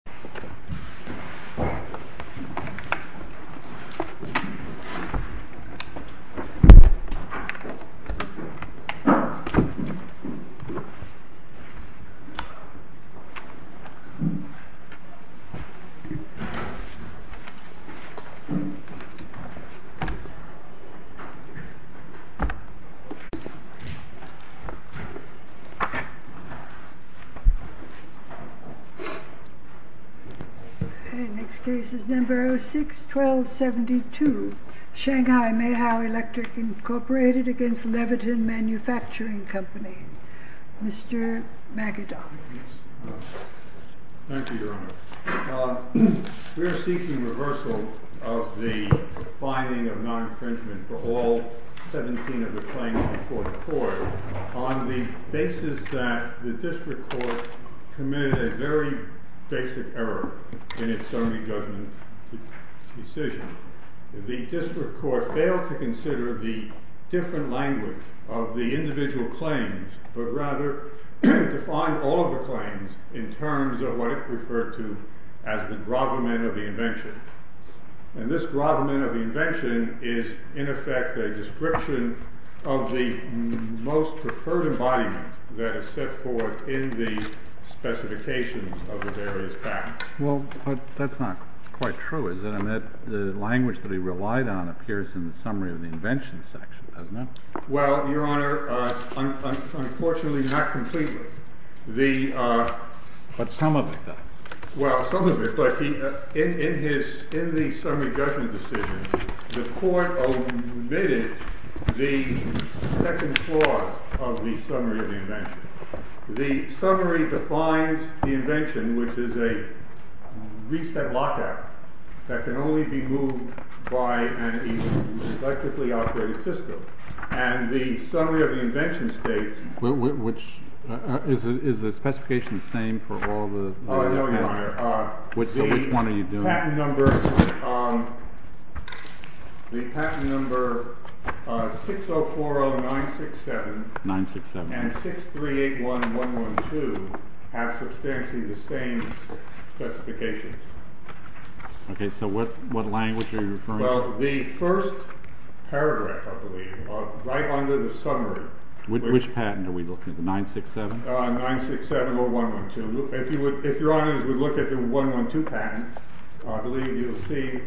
Shanghai Meohao v. Leviton MFG Case No. 61272 Shanghai Meohao Electric Inc. v. Leviton MFG Shanghai Meohao Electric Inc. v. Leviton MFG Well, but that's not quite true, is it? I mean, the language that he relied on appears in the summary of the invention section, doesn't it? Well, Your Honor, unfortunately not completely. But some of it does. Well, some of it does, but in the summary judgment decision, the court omitted the second clause of the summary of the invention. The summary defines the invention, which is a reset lockout that can only be moved by an electrically operated system. And the summary of the invention states— Which—is the specification the same for all the— Oh, no, Your Honor. Which one are you doing? The patent number 6040967 and 6381112 have substantially the same specifications. OK, so what language are you referring to? Well, the first paragraph, I believe, right under the summary— Which patent are we looking at, the 967? 967 or 112. If Your Honors would look at the 112 patent, I believe you'll see,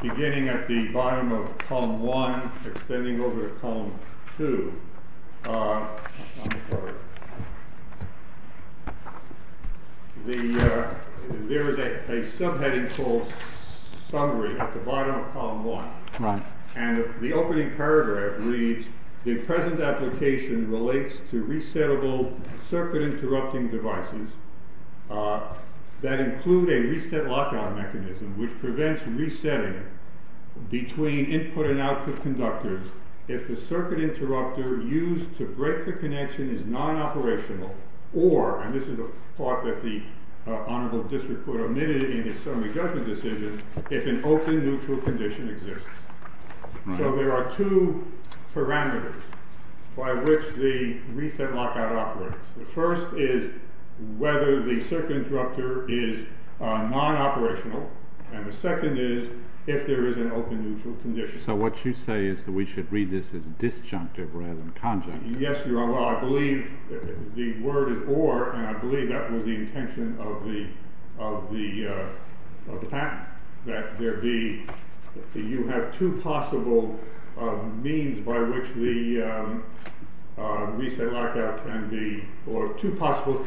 beginning at the bottom of column 1, extending over to column 2— There is a subheading called summary at the bottom of column 1. And the opening paragraph reads, The present application relates to resettable circuit-interrupting devices that include a reset lockout mechanism, which prevents resetting between input and output conductors if the circuit interrupter used to break the connection is non-operational, or—and this is a thought that the Honorable District Court omitted in its summary judgment decision—if an open, neutral condition exists. So there are two parameters by which the reset lockout operates. The first is whether the circuit interrupter is non-operational, and the second is if there is an open, neutral condition. So what you say is that we should read this as disjunctive rather than conjunctive. Yes, Your Honor, I believe the word is or, and I believe that was the intention of the patent, that you have two possible means by which the reset lockout can be—or two possible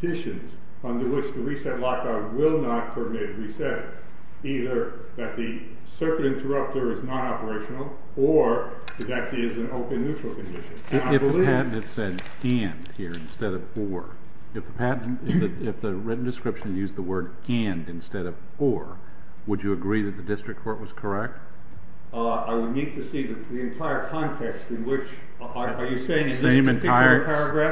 conditions under which the reset lockout will not permit resetting. Either that the circuit interrupter is non-operational, or that it is an open, neutral condition. If the patent had said and here instead of or, if the written description used the word and instead of or, would you agree that the District Court was correct? I would need to see the entire context in which—are you saying— The same entire—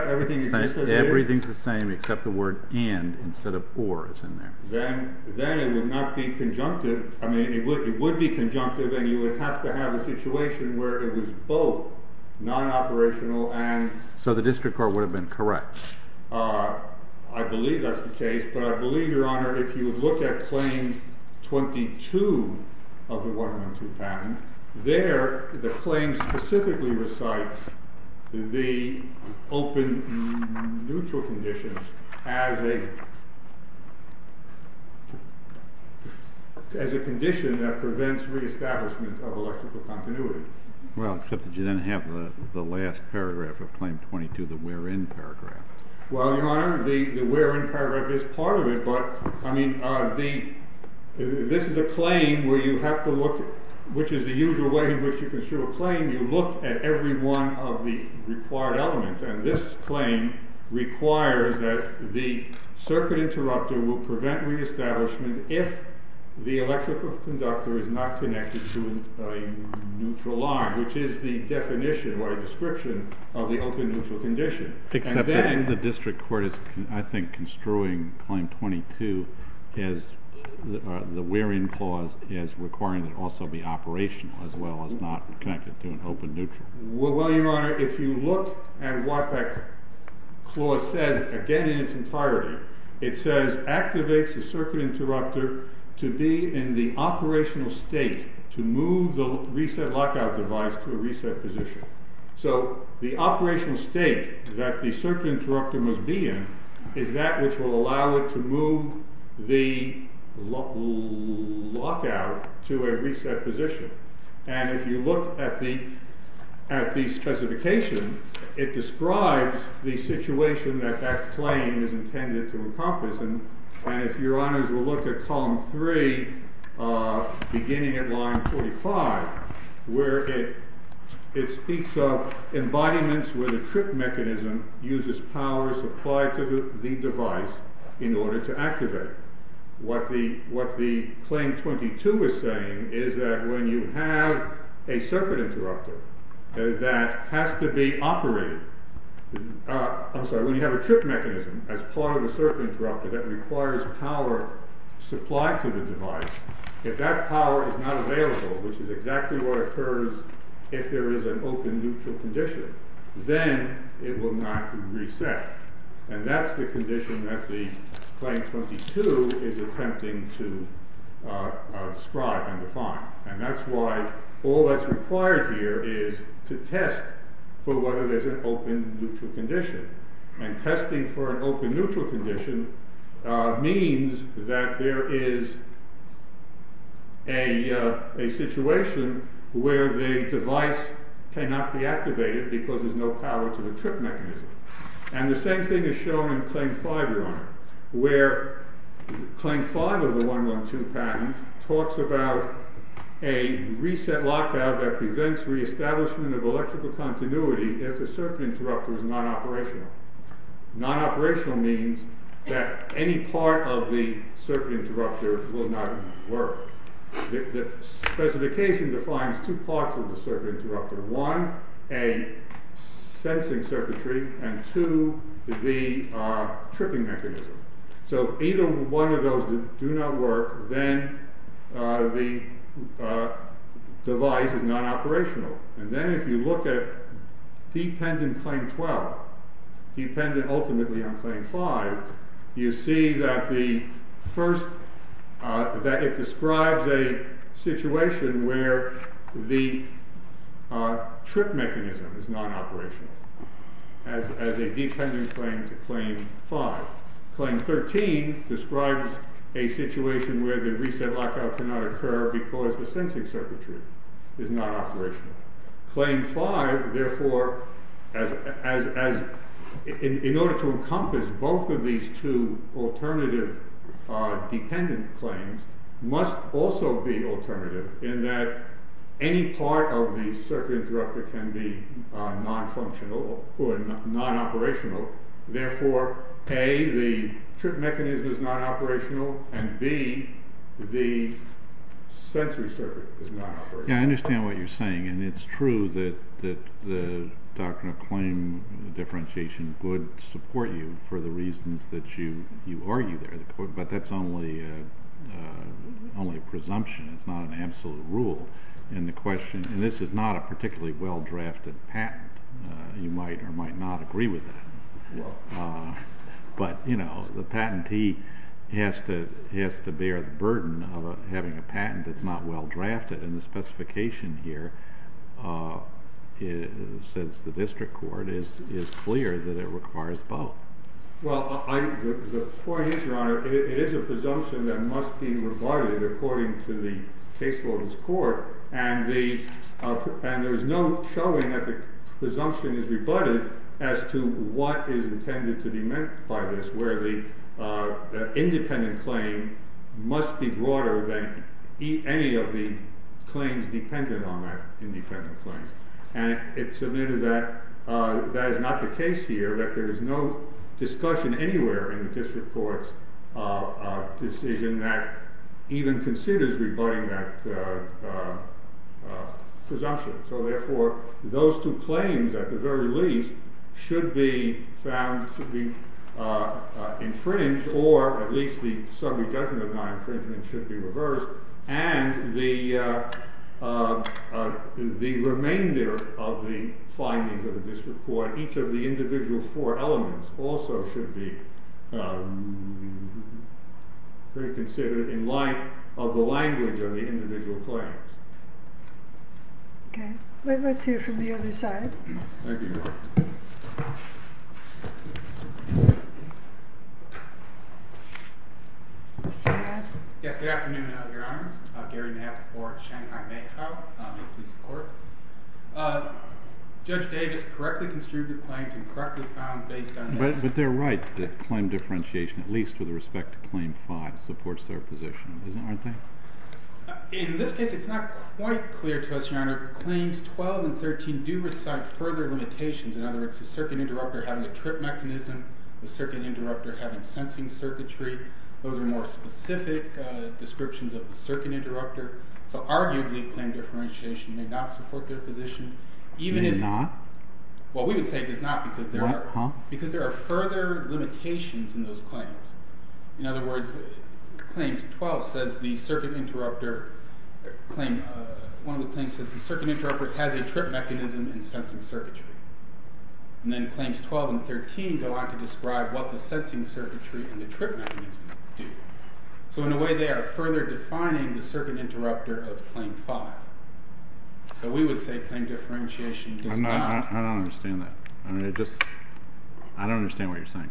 —everything that just says and? Everything's the same except the word and instead of or is in there. Then it would not be conjunctive. I mean, it would be conjunctive, and you would have to have a situation where it was both non-operational and— So the District Court would have been correct? I believe that's the case, but I believe, Your Honor, if you look at Claim 22 of the 112 patent, there the claim specifically recites the open, neutral conditions as a condition that prevents reestablishment of electrical continuity. Well, except that you didn't have the last paragraph of Claim 22, the wherein paragraph. Well, Your Honor, the wherein paragraph is part of it, but I mean, this is a claim where you have to look at—which is the usual way in which you construe a claim. You look at every one of the required elements, and this claim requires that the circuit interrupter will prevent reestablishment if the electrical conductor is not connected to a neutral line, which is the definition or description of the open, neutral condition. Except that the District Court is, I think, construing Claim 22, the wherein clause, as requiring it also be operational as well as not connected to an open, neutral. Well, Your Honor, if you look at what that clause says, again in its entirety, it says, activates the circuit interrupter to be in the operational state to move the reset lockout device to a reset position. So the operational state that the circuit interrupter must be in is that which will allow it to move the lockout to a reset position. And if you look at the specification, it describes the situation that that claim is intended to encompass. And if Your Honors will look at column 3, beginning at line 45, where it speaks of embodiments where the trip mechanism uses power supplied to the device in order to activate. What the Claim 22 is saying is that when you have a circuit interrupter that has to be operated, I'm sorry, when you have a trip mechanism as part of a circuit interrupter that requires power supplied to the device, if that power is not available, which is exactly what occurs if there is an open, neutral condition, then it will not reset. And that's the condition that the Claim 22 is attempting to describe and define. And that's why all that's required here is to test for whether there's an open, neutral condition. And testing for an open, neutral condition means that there is a situation where the device cannot be activated because there's no power to the trip mechanism. And the same thing is shown in Claim 5, Your Honor, where Claim 5 of the 112 patent talks about a reset lockout that prevents reestablishment of electrical continuity if the circuit interrupter is non-operational. Non-operational means that any part of the circuit interrupter will not work. The specification defines two parts of the circuit interrupter. One, a sensing circuitry, and two, the tripping mechanism. So if either one of those do not work, then the device is non-operational. And then if you look at dependent Claim 12, dependent ultimately on Claim 5, you see that it describes a situation where the trip mechanism is non-operational as a dependent claim to Claim 5. Claim 13 describes a situation where the reset lockout cannot occur because the sensing circuitry is not operational. Claim 5, therefore, in order to encompass both of these two alternative dependent claims, must also be alternative in that any part of the circuit interrupter can be non-functional or non-operational. Therefore, A, the trip mechanism is non-operational, and B, the sensory circuit is non-operational. Yeah, I understand what you're saying. And it's true that the doctrine of claim differentiation would support you for the reasons that you argue there. But that's only a presumption. It's not an absolute rule. And this is not a particularly well-drafted patent. You might or might not agree with that. But the patentee has to bear the burden of having a patent that's not well-drafted. And the specification here says the district court is clear that it requires both. Well, the point is, Your Honor, it is a presumption that must be rebutted according to the case law of this court. And there is no showing that the presumption is rebutted as to what is intended to be meant by this, where the independent claim must be broader than any of the claims dependent on that independent claim. And it's submitted that that is not the case here, that there is no discussion anywhere in the district court's decision that even considers rebutting that presumption. So therefore, those two claims, at the very least, should be found to be infringed, or at least the summary judgment of non-infringement should be reversed. And the remainder of the findings of the district court, each of the individual four elements also should be reconsidered in light of the language of the individual claims. Okay. Wait, let's hear from the other side. Thank you, Your Honor. Mr. Nabb? Yes, good afternoon, Your Honor. I'm Gary Nabb for Shanghai Mayhaw, a police court. Judge Davis correctly construed the claims and correctly found based on that. But they're right that claim differentiation, at least with respect to claim five, supports their position, isn't it, aren't they? In this case, it's not quite clear to us, Your Honor, claims 12 and 13 do recite further limitations. In other words, the circuit interrupter having a trip mechanism, the circuit interrupter having sensing circuitry, those are more specific descriptions of the circuit interrupter. So arguably, claim differentiation may not support their position. It may not? Well, we would say it does not because there are further limitations in those claims. In other words, claims 12 says the circuit interrupter, one of the claims says the circuit interrupter has a trip mechanism and sensing circuitry. And then claims 12 and 13 go on to describe what the sensing circuitry and the trip mechanism do. So in a way, they are further defining the circuit interrupter of claim five. So we would say claim differentiation does not. I don't understand that. I don't understand what you're saying.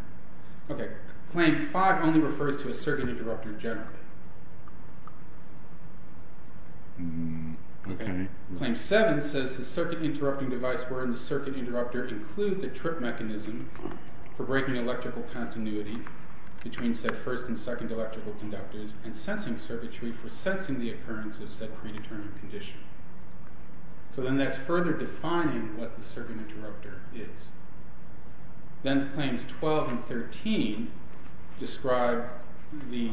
Claim five only refers to a circuit interrupter generally. Claim seven says the circuit interrupting device wherein the circuit interrupter includes a trip mechanism for breaking electrical continuity between said first and second electrical conductors and sensing circuitry for sensing the occurrence of said predetermined condition. So then that's further defining what the circuit interrupter is. Then claims 12 and 13 describe the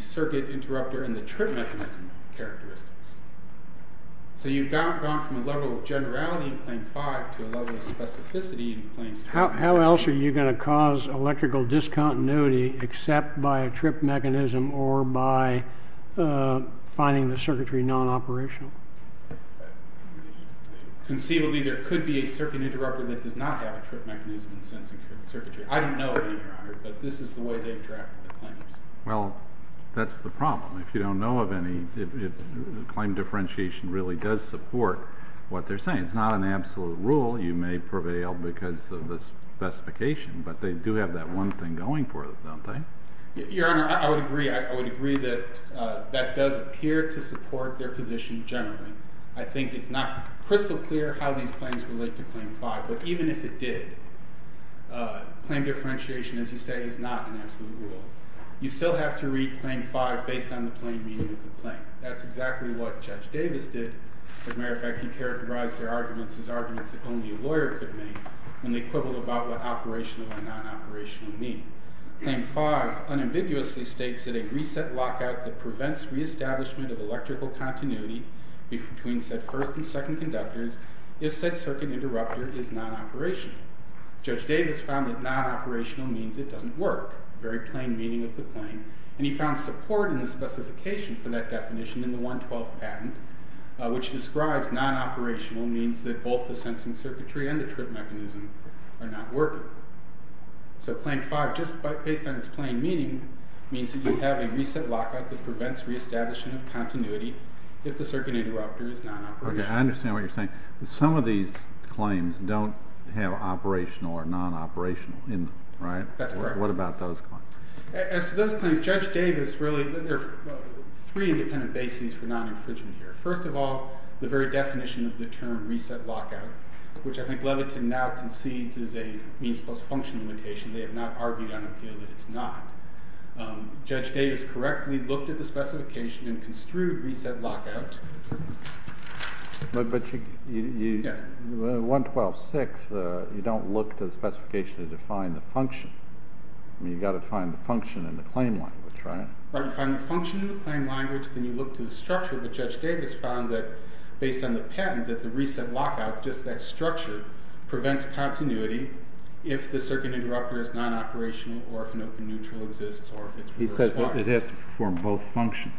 circuit interrupter and the trip mechanism characteristics. So you've gone from a level of generality in claim five to a level of specificity in claims 12 and 13. How else are you going to cause electrical discontinuity except by a trip mechanism or by finding the circuitry non-operational? Conceivably, there could be a circuit interrupter that does not have a trip mechanism in sensing circuitry. I don't know either, Your Honor, but this is the way they've drafted the claims. Well, that's the problem. If you don't know of any, if claim differentiation really does support what they're saying. It's not an absolute rule. You may prevail because of the specification, but they do have that one thing going for them, don't they? Your Honor, I would agree. I would agree that that does appear to support their position generally. I think it's not crystal clear how these claims relate to claim five. But even if it did, claim differentiation, as you say, is not an absolute rule. You still have to read claim five based on the plain meaning of the claim. That's exactly what Judge Davis did. As a matter of fact, he characterized their arguments as arguments that only a lawyer could make. And they quibble about what operational and non-operational mean. Claim five unambiguously states that a reset lockout that prevents reestablishment of electrical continuity between said first and second conductors, if said circuit interrupter is non-operational. Judge Davis found that non-operational means it doesn't work. Very plain meaning of the claim. And he found support in the specification for that definition in the 112 patent, which describes non-operational means that both the sensing circuitry and the trip mechanism are not working. So claim five, just based on its plain meaning, means that you have a reset lockout that prevents reestablishment of continuity if the circuit interrupter is non-operational. Okay, I understand what you're saying. Some of these claims don't have operational or non-operational in them, right? That's correct. What about those claims? As to those claims, Judge Davis really, there are three independent bases for non-interpretation here. First of all, the very definition of the term reset lockout, which I think Levitin now concedes is a means plus function limitation. They have not argued on appeal that it's not. Judge Davis correctly looked at the specification and construed reset lockout. But you, in 112.6, you don't look to the specification to define the function. I mean, you've got to find the function in the claim language, right? Right, you find the function in the claim language, then you look to the structure. But Judge Davis found that, based on the patent, that the reset lockout, just that structure, prevents continuity if the circuit interrupter is non-operational or if an open neutral exists. He says it has to perform both functions.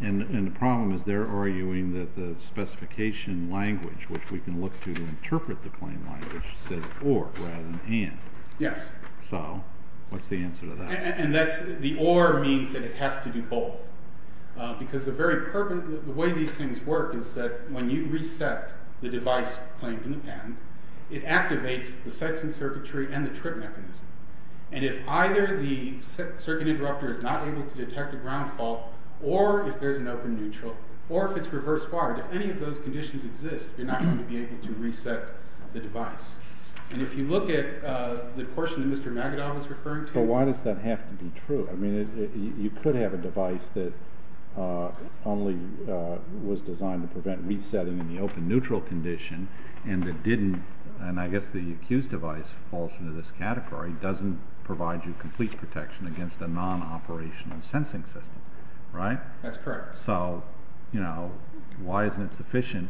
And the problem is they're arguing that the specification language, which we can look to to interpret the claim language, says or rather than and. Yes. So what's the answer to that? The or means that it has to do both. Because the way these things work is that when you reset the device claimed in the patent, it activates the sightseeing circuitry and the trip mechanism. And if either the circuit interrupter is not able to detect a ground fault or if there's an open neutral or if it's reversed wired, if any of those conditions exist, you're not going to be able to reset the device. And if you look at the portion that Mr. Magidow is referring to. So why does that have to be true? I mean, you could have a device that only was designed to prevent resetting in the open neutral condition and it didn't, and I guess the accused device falls into this category, doesn't provide you complete protection against a non-operational sensing system. Right? That's correct. So, you know, why isn't it sufficient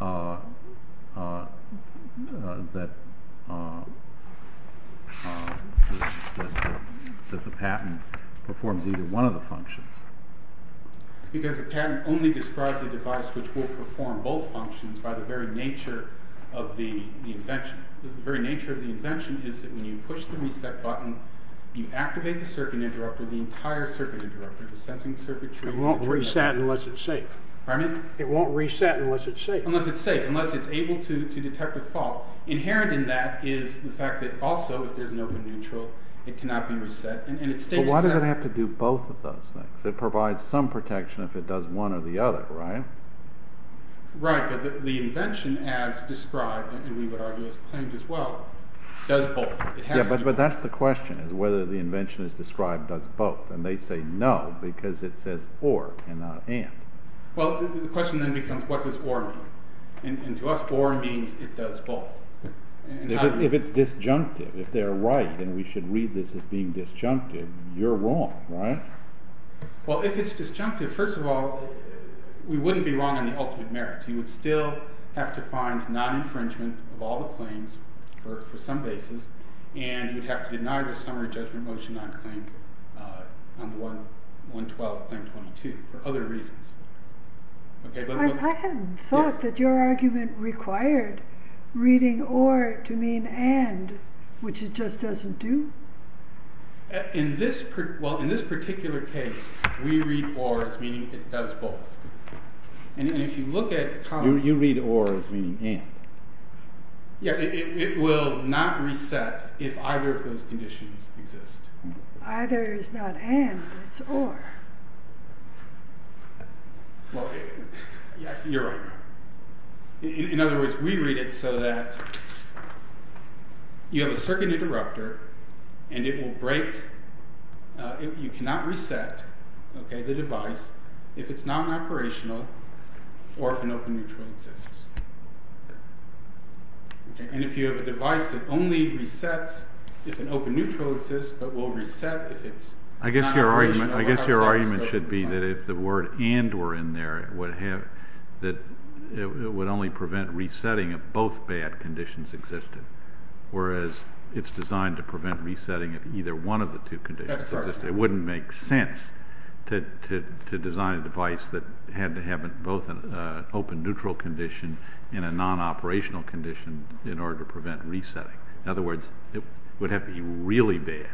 that the patent performs either one of the functions? Because the patent only describes a device which will perform both functions by the very nature of the invention. The very nature of the invention is that when you push the reset button, you activate the circuit interrupter, the entire circuit interrupter, the sensing circuitry. It won't reset unless it's safe. Pardon me? It won't reset unless it's safe. Unless it's safe, unless it's able to detect a fault. Inherent in that is the fact that also if there's an open neutral, it cannot be reset. Why does it have to do both of those things? It provides some protection if it does one or the other, right? Right, but the invention as described, and we would argue it's claimed as well, does both. Yeah, but that's the question, is whether the invention as described does both. And they say no, because it says or, and not and. Well, the question then becomes, what does or mean? And to us, or means it does both. If it's disjunctive, if they're right and we should read this as being disjunctive, you're wrong, right? Well, if it's disjunctive, first of all, we wouldn't be wrong on the ultimate merits. You would still have to find non-infringement of all the claims for some basis, and you'd have to deny the summary judgment motion on claim 112, claim 22, for other reasons. I hadn't thought that your argument required reading or to mean and, which it just doesn't do. In this particular case, we read or as meaning it does both. You read or as meaning and. Yeah, it will not reset if either of those conditions exist. Either is not and, it's or. Well, yeah, you're right. In other words, we read it so that you have a circuit interrupter, and it will break. You cannot reset the device if it's non-operational or if an open neutral exists. And if you have a device that only resets if an open neutral exists, but will reset if it's non-operational. I guess your argument should be that if the word and were in there, it would only prevent resetting if both bad conditions existed. Whereas it's designed to prevent resetting of either one of the two conditions. That's correct. It wouldn't make sense to design a device that had to have both an open neutral condition and a non-operational condition in order to prevent resetting. In other words, it would have to be really bad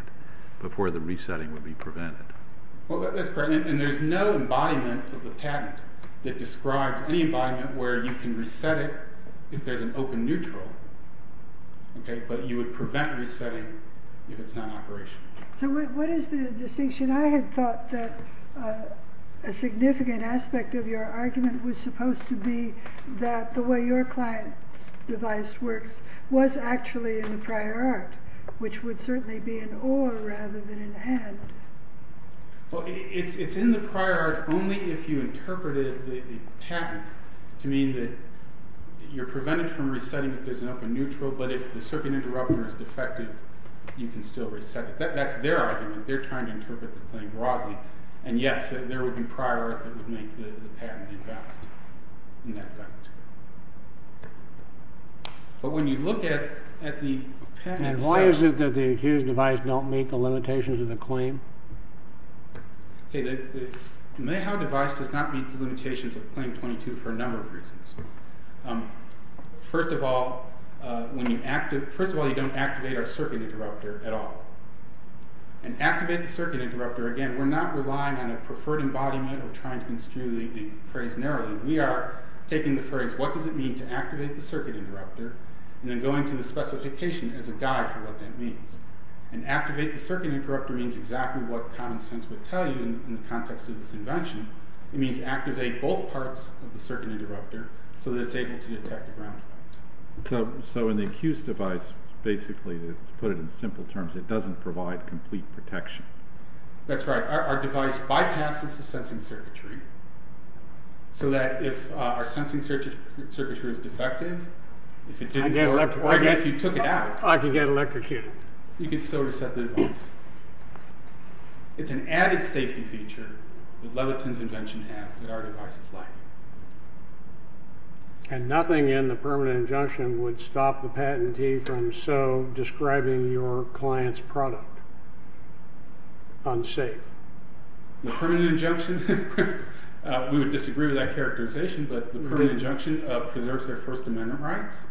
before the resetting would be prevented. Well, that's correct. And there's no embodiment of the patent that describes any embodiment where you can reset it if there's an open neutral. But you would prevent resetting if it's non-operational. So what is the distinction? I had thought that a significant aspect of your argument was supposed to be that the way your client's device works was actually in the prior art, which would certainly be an or rather than an and. Well, it's in the prior art only if you interpreted the patent to mean that you're prevented from resetting if there's an open neutral, but if the circuit interrupter is defective, you can still reset it. That's their argument. They're trying to interpret the thing broadly. And yes, there would be prior art that would make the patent invalid in that respect. But when you look at the patent... And why is it that the accused device don't meet the limitations of the claim? The Mayhaw device does not meet the limitations of Claim 22 for a number of reasons. First of all, you don't activate our circuit interrupter at all. And activate the circuit interrupter, again, we're not relying on a preferred embodiment or trying to construe the phrase narrowly. We are taking the phrase, what does it mean to activate the circuit interrupter, and then going to the specification as a guide for what that means. And activate the circuit interrupter means exactly what common sense would tell you in the context of this invention. It means activate both parts of the circuit interrupter so that it's able to detect the ground. So in the accused device, basically to put it in simple terms, it doesn't provide complete protection. That's right. Our device bypasses the sensing circuitry. So that if our sensing circuitry is defective, if it didn't work, or if you took it out, I can get electrocuted. You can still reset the device. It's an added safety feature that Leviton's invention has that our device is lacking. And nothing in the permanent injunction would stop the patentee from so describing your client's product. Unsafe. The permanent injunction, we would disagree with that characterization, but the permanent injunction preserves their First Amendment rights.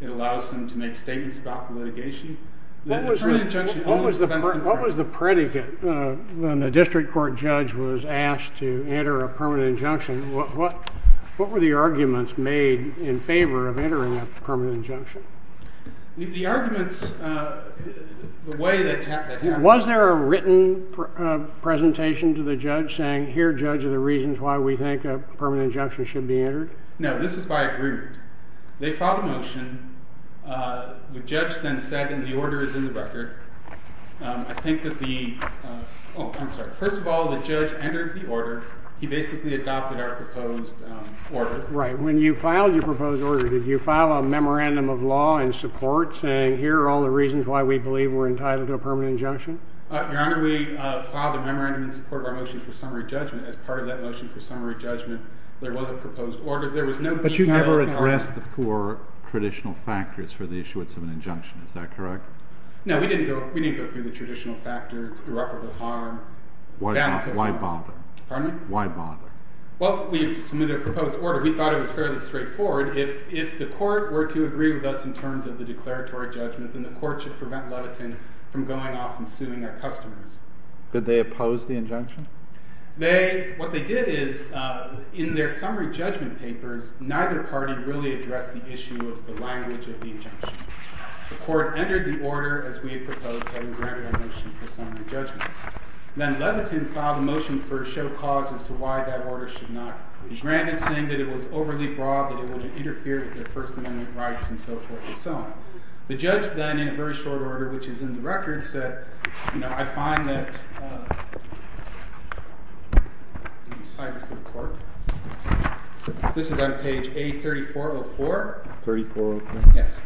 It allows them to make statements about the litigation. What was the predicate when the district court judge was asked to enter a permanent injunction? What were the arguments made in favor of entering a permanent injunction? The arguments, the way that happened... Was there a written presentation to the judge saying, here, judge, are the reasons why we think a permanent injunction should be entered? No, this was by agreement. They filed a motion. The judge then said, and the order is in the record, I think that the... Oh, I'm sorry. First of all, the judge entered the order. He basically adopted our proposed order. Right. When you filed your proposed order, did you file a memorandum of law in support saying, here are all the reasons why we believe we're entitled to a permanent injunction? Your Honor, we filed a memorandum in support of our motion for summary judgment. As part of that motion for summary judgment, there was a proposed order. But you never addressed the four traditional factors for the issuance of an injunction. Is that correct? No, we didn't go through the traditional factors. Irreparable harm. Why bother? Pardon me? Why bother? Well, we submitted a proposed order. We thought it was fairly straightforward. If the court were to agree with us in terms of the declaratory judgment, then the court should prevent Levitin from going off and suing our customers. Did they oppose the injunction? What they did is, in their summary judgment papers, neither party really addressed the issue of the language of the injunction. The court entered the order as we had proposed having granted our motion for summary judgment. Then Levitin filed a motion for a show cause as to why that order should not be granted, saying that it was overly broad, that it would interfere with their First Amendment rights, and so forth and so on. The judge then, in a very short order, which is in the record, said, I find that this is on page A3404. 3404? Yes.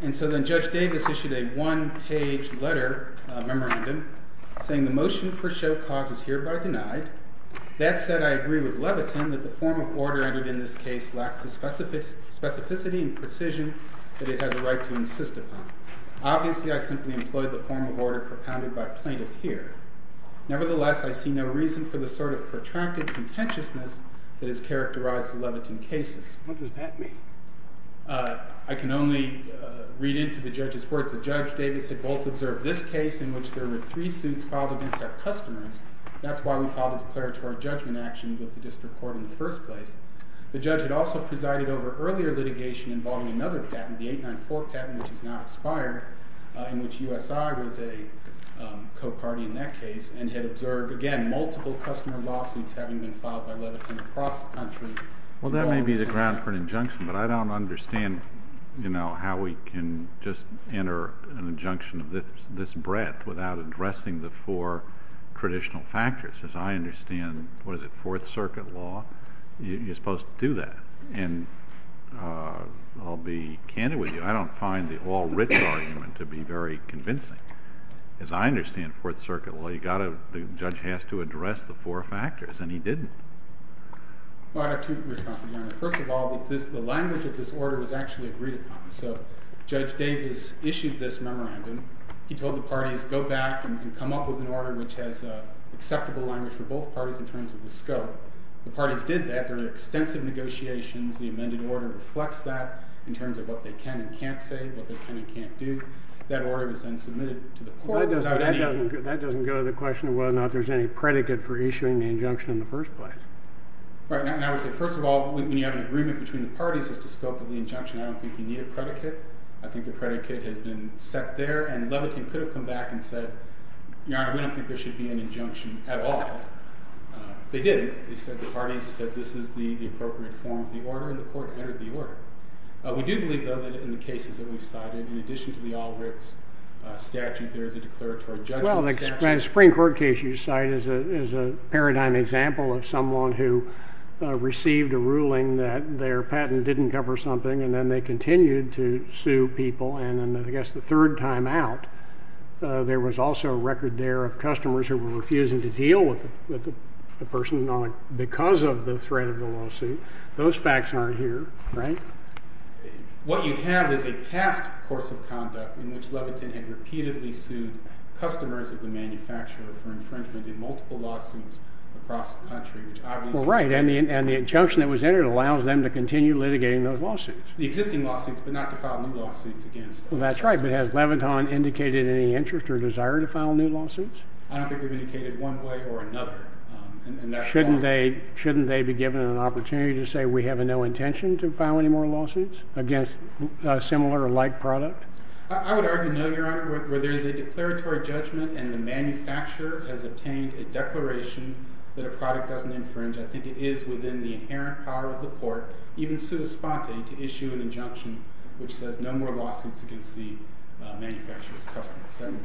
And so then Judge Davis issued a one-page letter, a memorandum, saying the motion for show cause is hereby denied. That said, I agree with Levitin that the form of order entered in this case lacks the specificity and precision that it has a right to insist upon. Obviously, I simply employed the form of order propounded by plaintiff here. Nevertheless, I see no reason for the sort of protracted contentiousness that has characterized the Levitin cases. What does that mean? I can only read into the judge's words. The judge Davis had both observed this case, in which there were three suits filed against our customers. That's why we filed a declaratory judgment action with the district court in the first place. The judge had also presided over earlier litigation involving another patent, the 894 patent, which has now expired, in which USI was a co-party in that case, and had observed, again, multiple customer lawsuits having been filed by Levitin across the country. Well, that may be the ground for an injunction, but I don't understand how we can just enter an injunction of this breadth without addressing the four traditional factors. As I understand, what is it, Fourth Circuit law? You're supposed to do that. And I'll be candid with you. I don't find the all-written argument to be very convincing. As I understand Fourth Circuit law, the judge has to address the four factors, and he didn't. Well, I have two responses, Your Honor. First of all, the language of this order was actually agreed upon. So Judge Davis issued this memorandum. He told the parties, go back and come up with an order which has acceptable language for both parties in terms of the scope. The parties did that. There were extensive negotiations. The amended order reflects that in terms of what they can and can't say, what they can and can't do. That order was then submitted to the court without any— And I would say, first of all, when you have an agreement between the parties as to scope of the injunction, I don't think you need a predicate. I think the predicate has been set there. And Levitin could have come back and said, Your Honor, we don't think there should be an injunction at all. They didn't. They said the parties said this is the appropriate form of the order, and the court entered the order. We do believe, though, that in the cases that we've cited, in addition to the all-written statute, there is a declaratory judgment statute. The Supreme Court case you cite is a paradigm example of someone who received a ruling that their patent didn't cover something, and then they continued to sue people, and then I guess the third time out, there was also a record there of customers who were refusing to deal with the person because of the threat of the lawsuit. Those facts aren't here, right? What you have is a past course of conduct in which Levitin had repeatedly sued customers of the manufacturer for infringement in multiple lawsuits across the country. Well, right, and the injunction that was entered allows them to continue litigating those lawsuits. The existing lawsuits, but not to file new lawsuits against them. Well, that's right, but has Levitin indicated any interest or desire to file new lawsuits? I don't think they've indicated one way or another. Shouldn't they be given an opportunity to say, we have no intention to file any more lawsuits against a similar or like product? I would argue no, Your Honor, where there is a declaratory judgment and the manufacturer has obtained a declaration that a product doesn't infringe, I think it is within the inherent power of the court, even sui sponte, to issue an injunction which says no more lawsuits against the manufacturer's customers.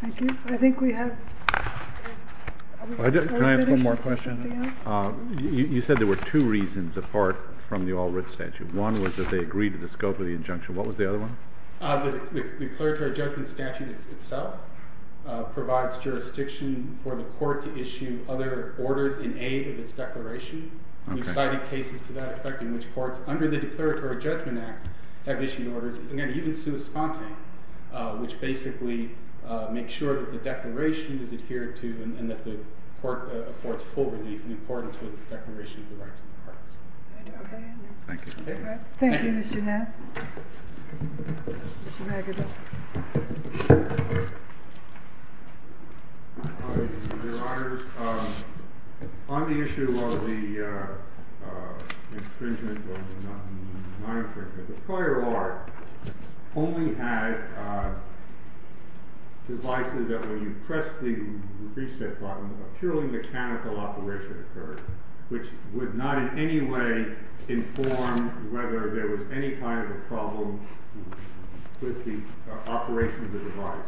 Thank you. I think we have... Can I ask one more question? You said there were two reasons apart from the All Writ Statute. One was that they agreed to the scope of the injunction. What was the other one? The declaratory judgment statute itself provides jurisdiction for the court to issue other orders in aid of its declaration. We've cited cases to that effect in which courts under the Declaratory Judgment Act have issued orders, again, even sui sponte, which basically make sure that the declaration is adhered to and that the court affords full relief and importance with its declaration of the rights of the products. Thank you. Thank you, Mr. Hath. Your Honor, on the issue of the infringement of the manufacturer, the prior art only had devices that, when you pressed the reset button, a purely mechanical operation occurred, which would not in any way inform whether there was any kind of a problem with the operation of the device.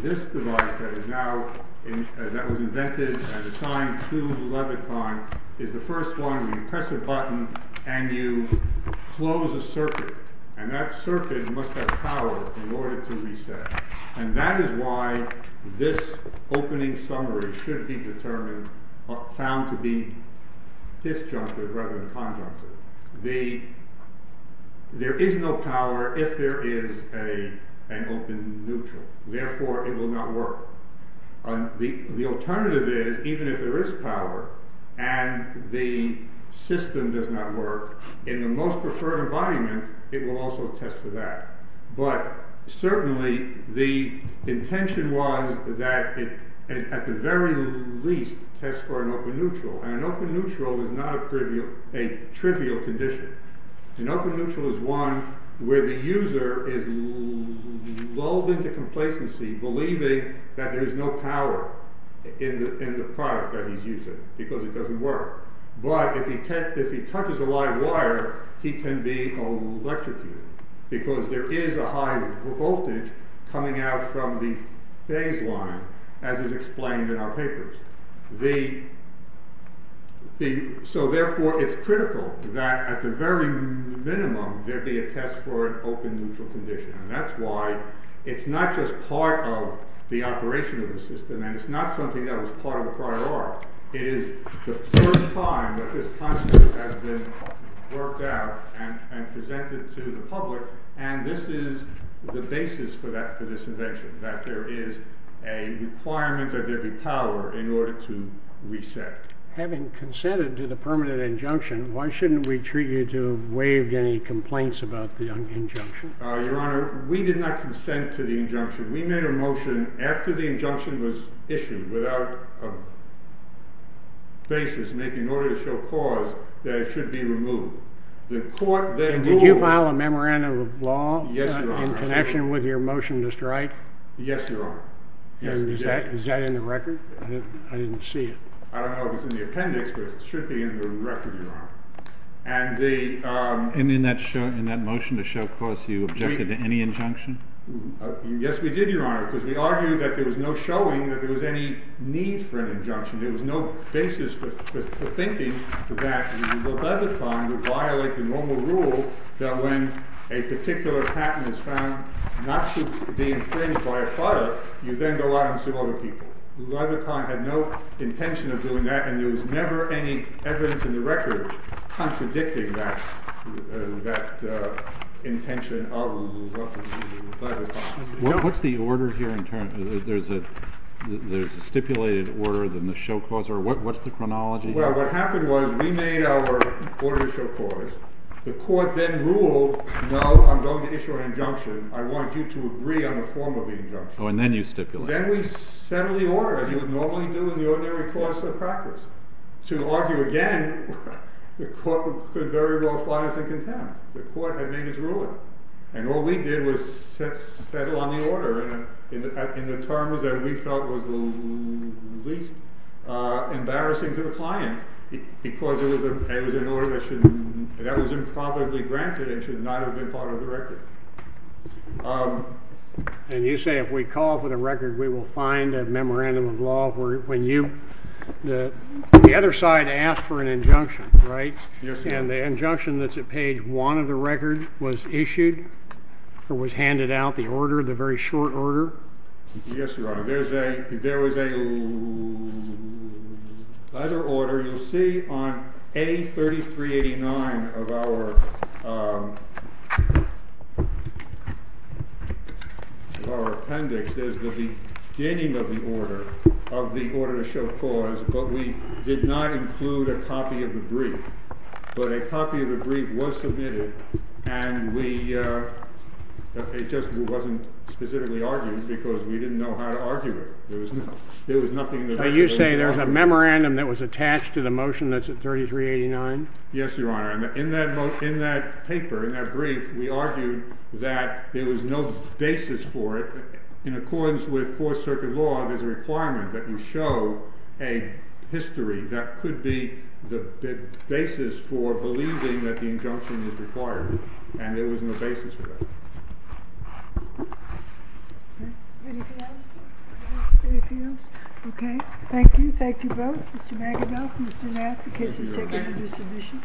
This device that was invented and assigned to Leviton is the first one. You press a button and you close a circuit, and that circuit must have power in order to reset. And that is why this opening summary should be found to be disjunctive rather than conjunctive. There is no power if there is an open neutral. Therefore, it will not work. The alternative is, even if there is power and the system does not work, in the most preferred environment, it will also test for that. But certainly, the intention was that it, at the very least, tests for an open neutral. And an open neutral is not a trivial condition. An open neutral is one where the user is lulled into complacency, believing that there is no power in the product that he is using, because it does not work. But if he touches a live wire, he can be electrocuted, because there is a high voltage coming out from the phase line, as is explained in our papers. So therefore, it is critical that, at the very minimum, there be a test for an open neutral condition. And that is why it is not just part of the operation of the system, and it is not something that was part of the prior art. It is the first time that this concept has been worked out and presented to the public, and this is the basis for this invention, that there is a requirement that there be power in order to reset. Having consented to the permanent injunction, why shouldn't we treat you to have waived any complaints about the injunction? Your Honor, we did not consent to the injunction. We made a motion after the injunction was issued, without a basis, in order to show cause, that it should be removed. Did you file a memorandum of law in connection with your motion to strike? Yes, Your Honor. Is that in the record? I didn't see it. I don't know if it's in the appendix, but it should be in the record, Your Honor. And in that motion to show cause, you objected to any injunction? Yes, we did, Your Honor, because we argued that there was no showing that there was any need for an injunction. There was no basis for thinking that the Leviton would violate the normal rule that when a particular patent is found not to be infringed by a product, you then go out and sue other people. The Leviton had no intention of doing that, and there was never any evidence in the record contradicting that intention of the Leviton. What's the order here? There's a stipulated order, then the show cause, or what's the chronology? Well, what happened was we made our order to show cause. The court then ruled, no, I'm going to issue an injunction. I want you to agree on the form of the injunction. Oh, and then you stipulated. Then we settled the order, as you would normally do in the ordinary course of practice. To argue again, the court could very well find us in contempt. The court had made its ruling. And all we did was settle on the order in the terms that we felt was the least embarrassing to the client because that was improperly granted and should not have been part of the record. And you say if we call for the record, we will find a memorandum of law. The other side asked for an injunction, right? And the injunction that's at page one of the record was issued or was handed out, the order, the very short order? Yes, Your Honor. There was a letter order. You'll see on A3389 of our appendix, there's the beginning of the order, of the order to show cause, but we did not include a copy of the brief. But a copy of the brief was submitted, and it just wasn't specifically argued because we didn't know how to argue it. There was nothing that we could argue. So you say there's a memorandum that was attached to the motion that's at A3389? Yes, Your Honor. In that paper, in that brief, we argued that there was no basis for it. In accordance with Fourth Circuit law, there's a requirement that you show a history. That could be the basis for believing that the injunction is required, and there was no basis for that. Anything else? No. Anything else? Okay. Thank you. Thank you both. Mr. Magidow, Mr. Nath, the cases are going to do submission.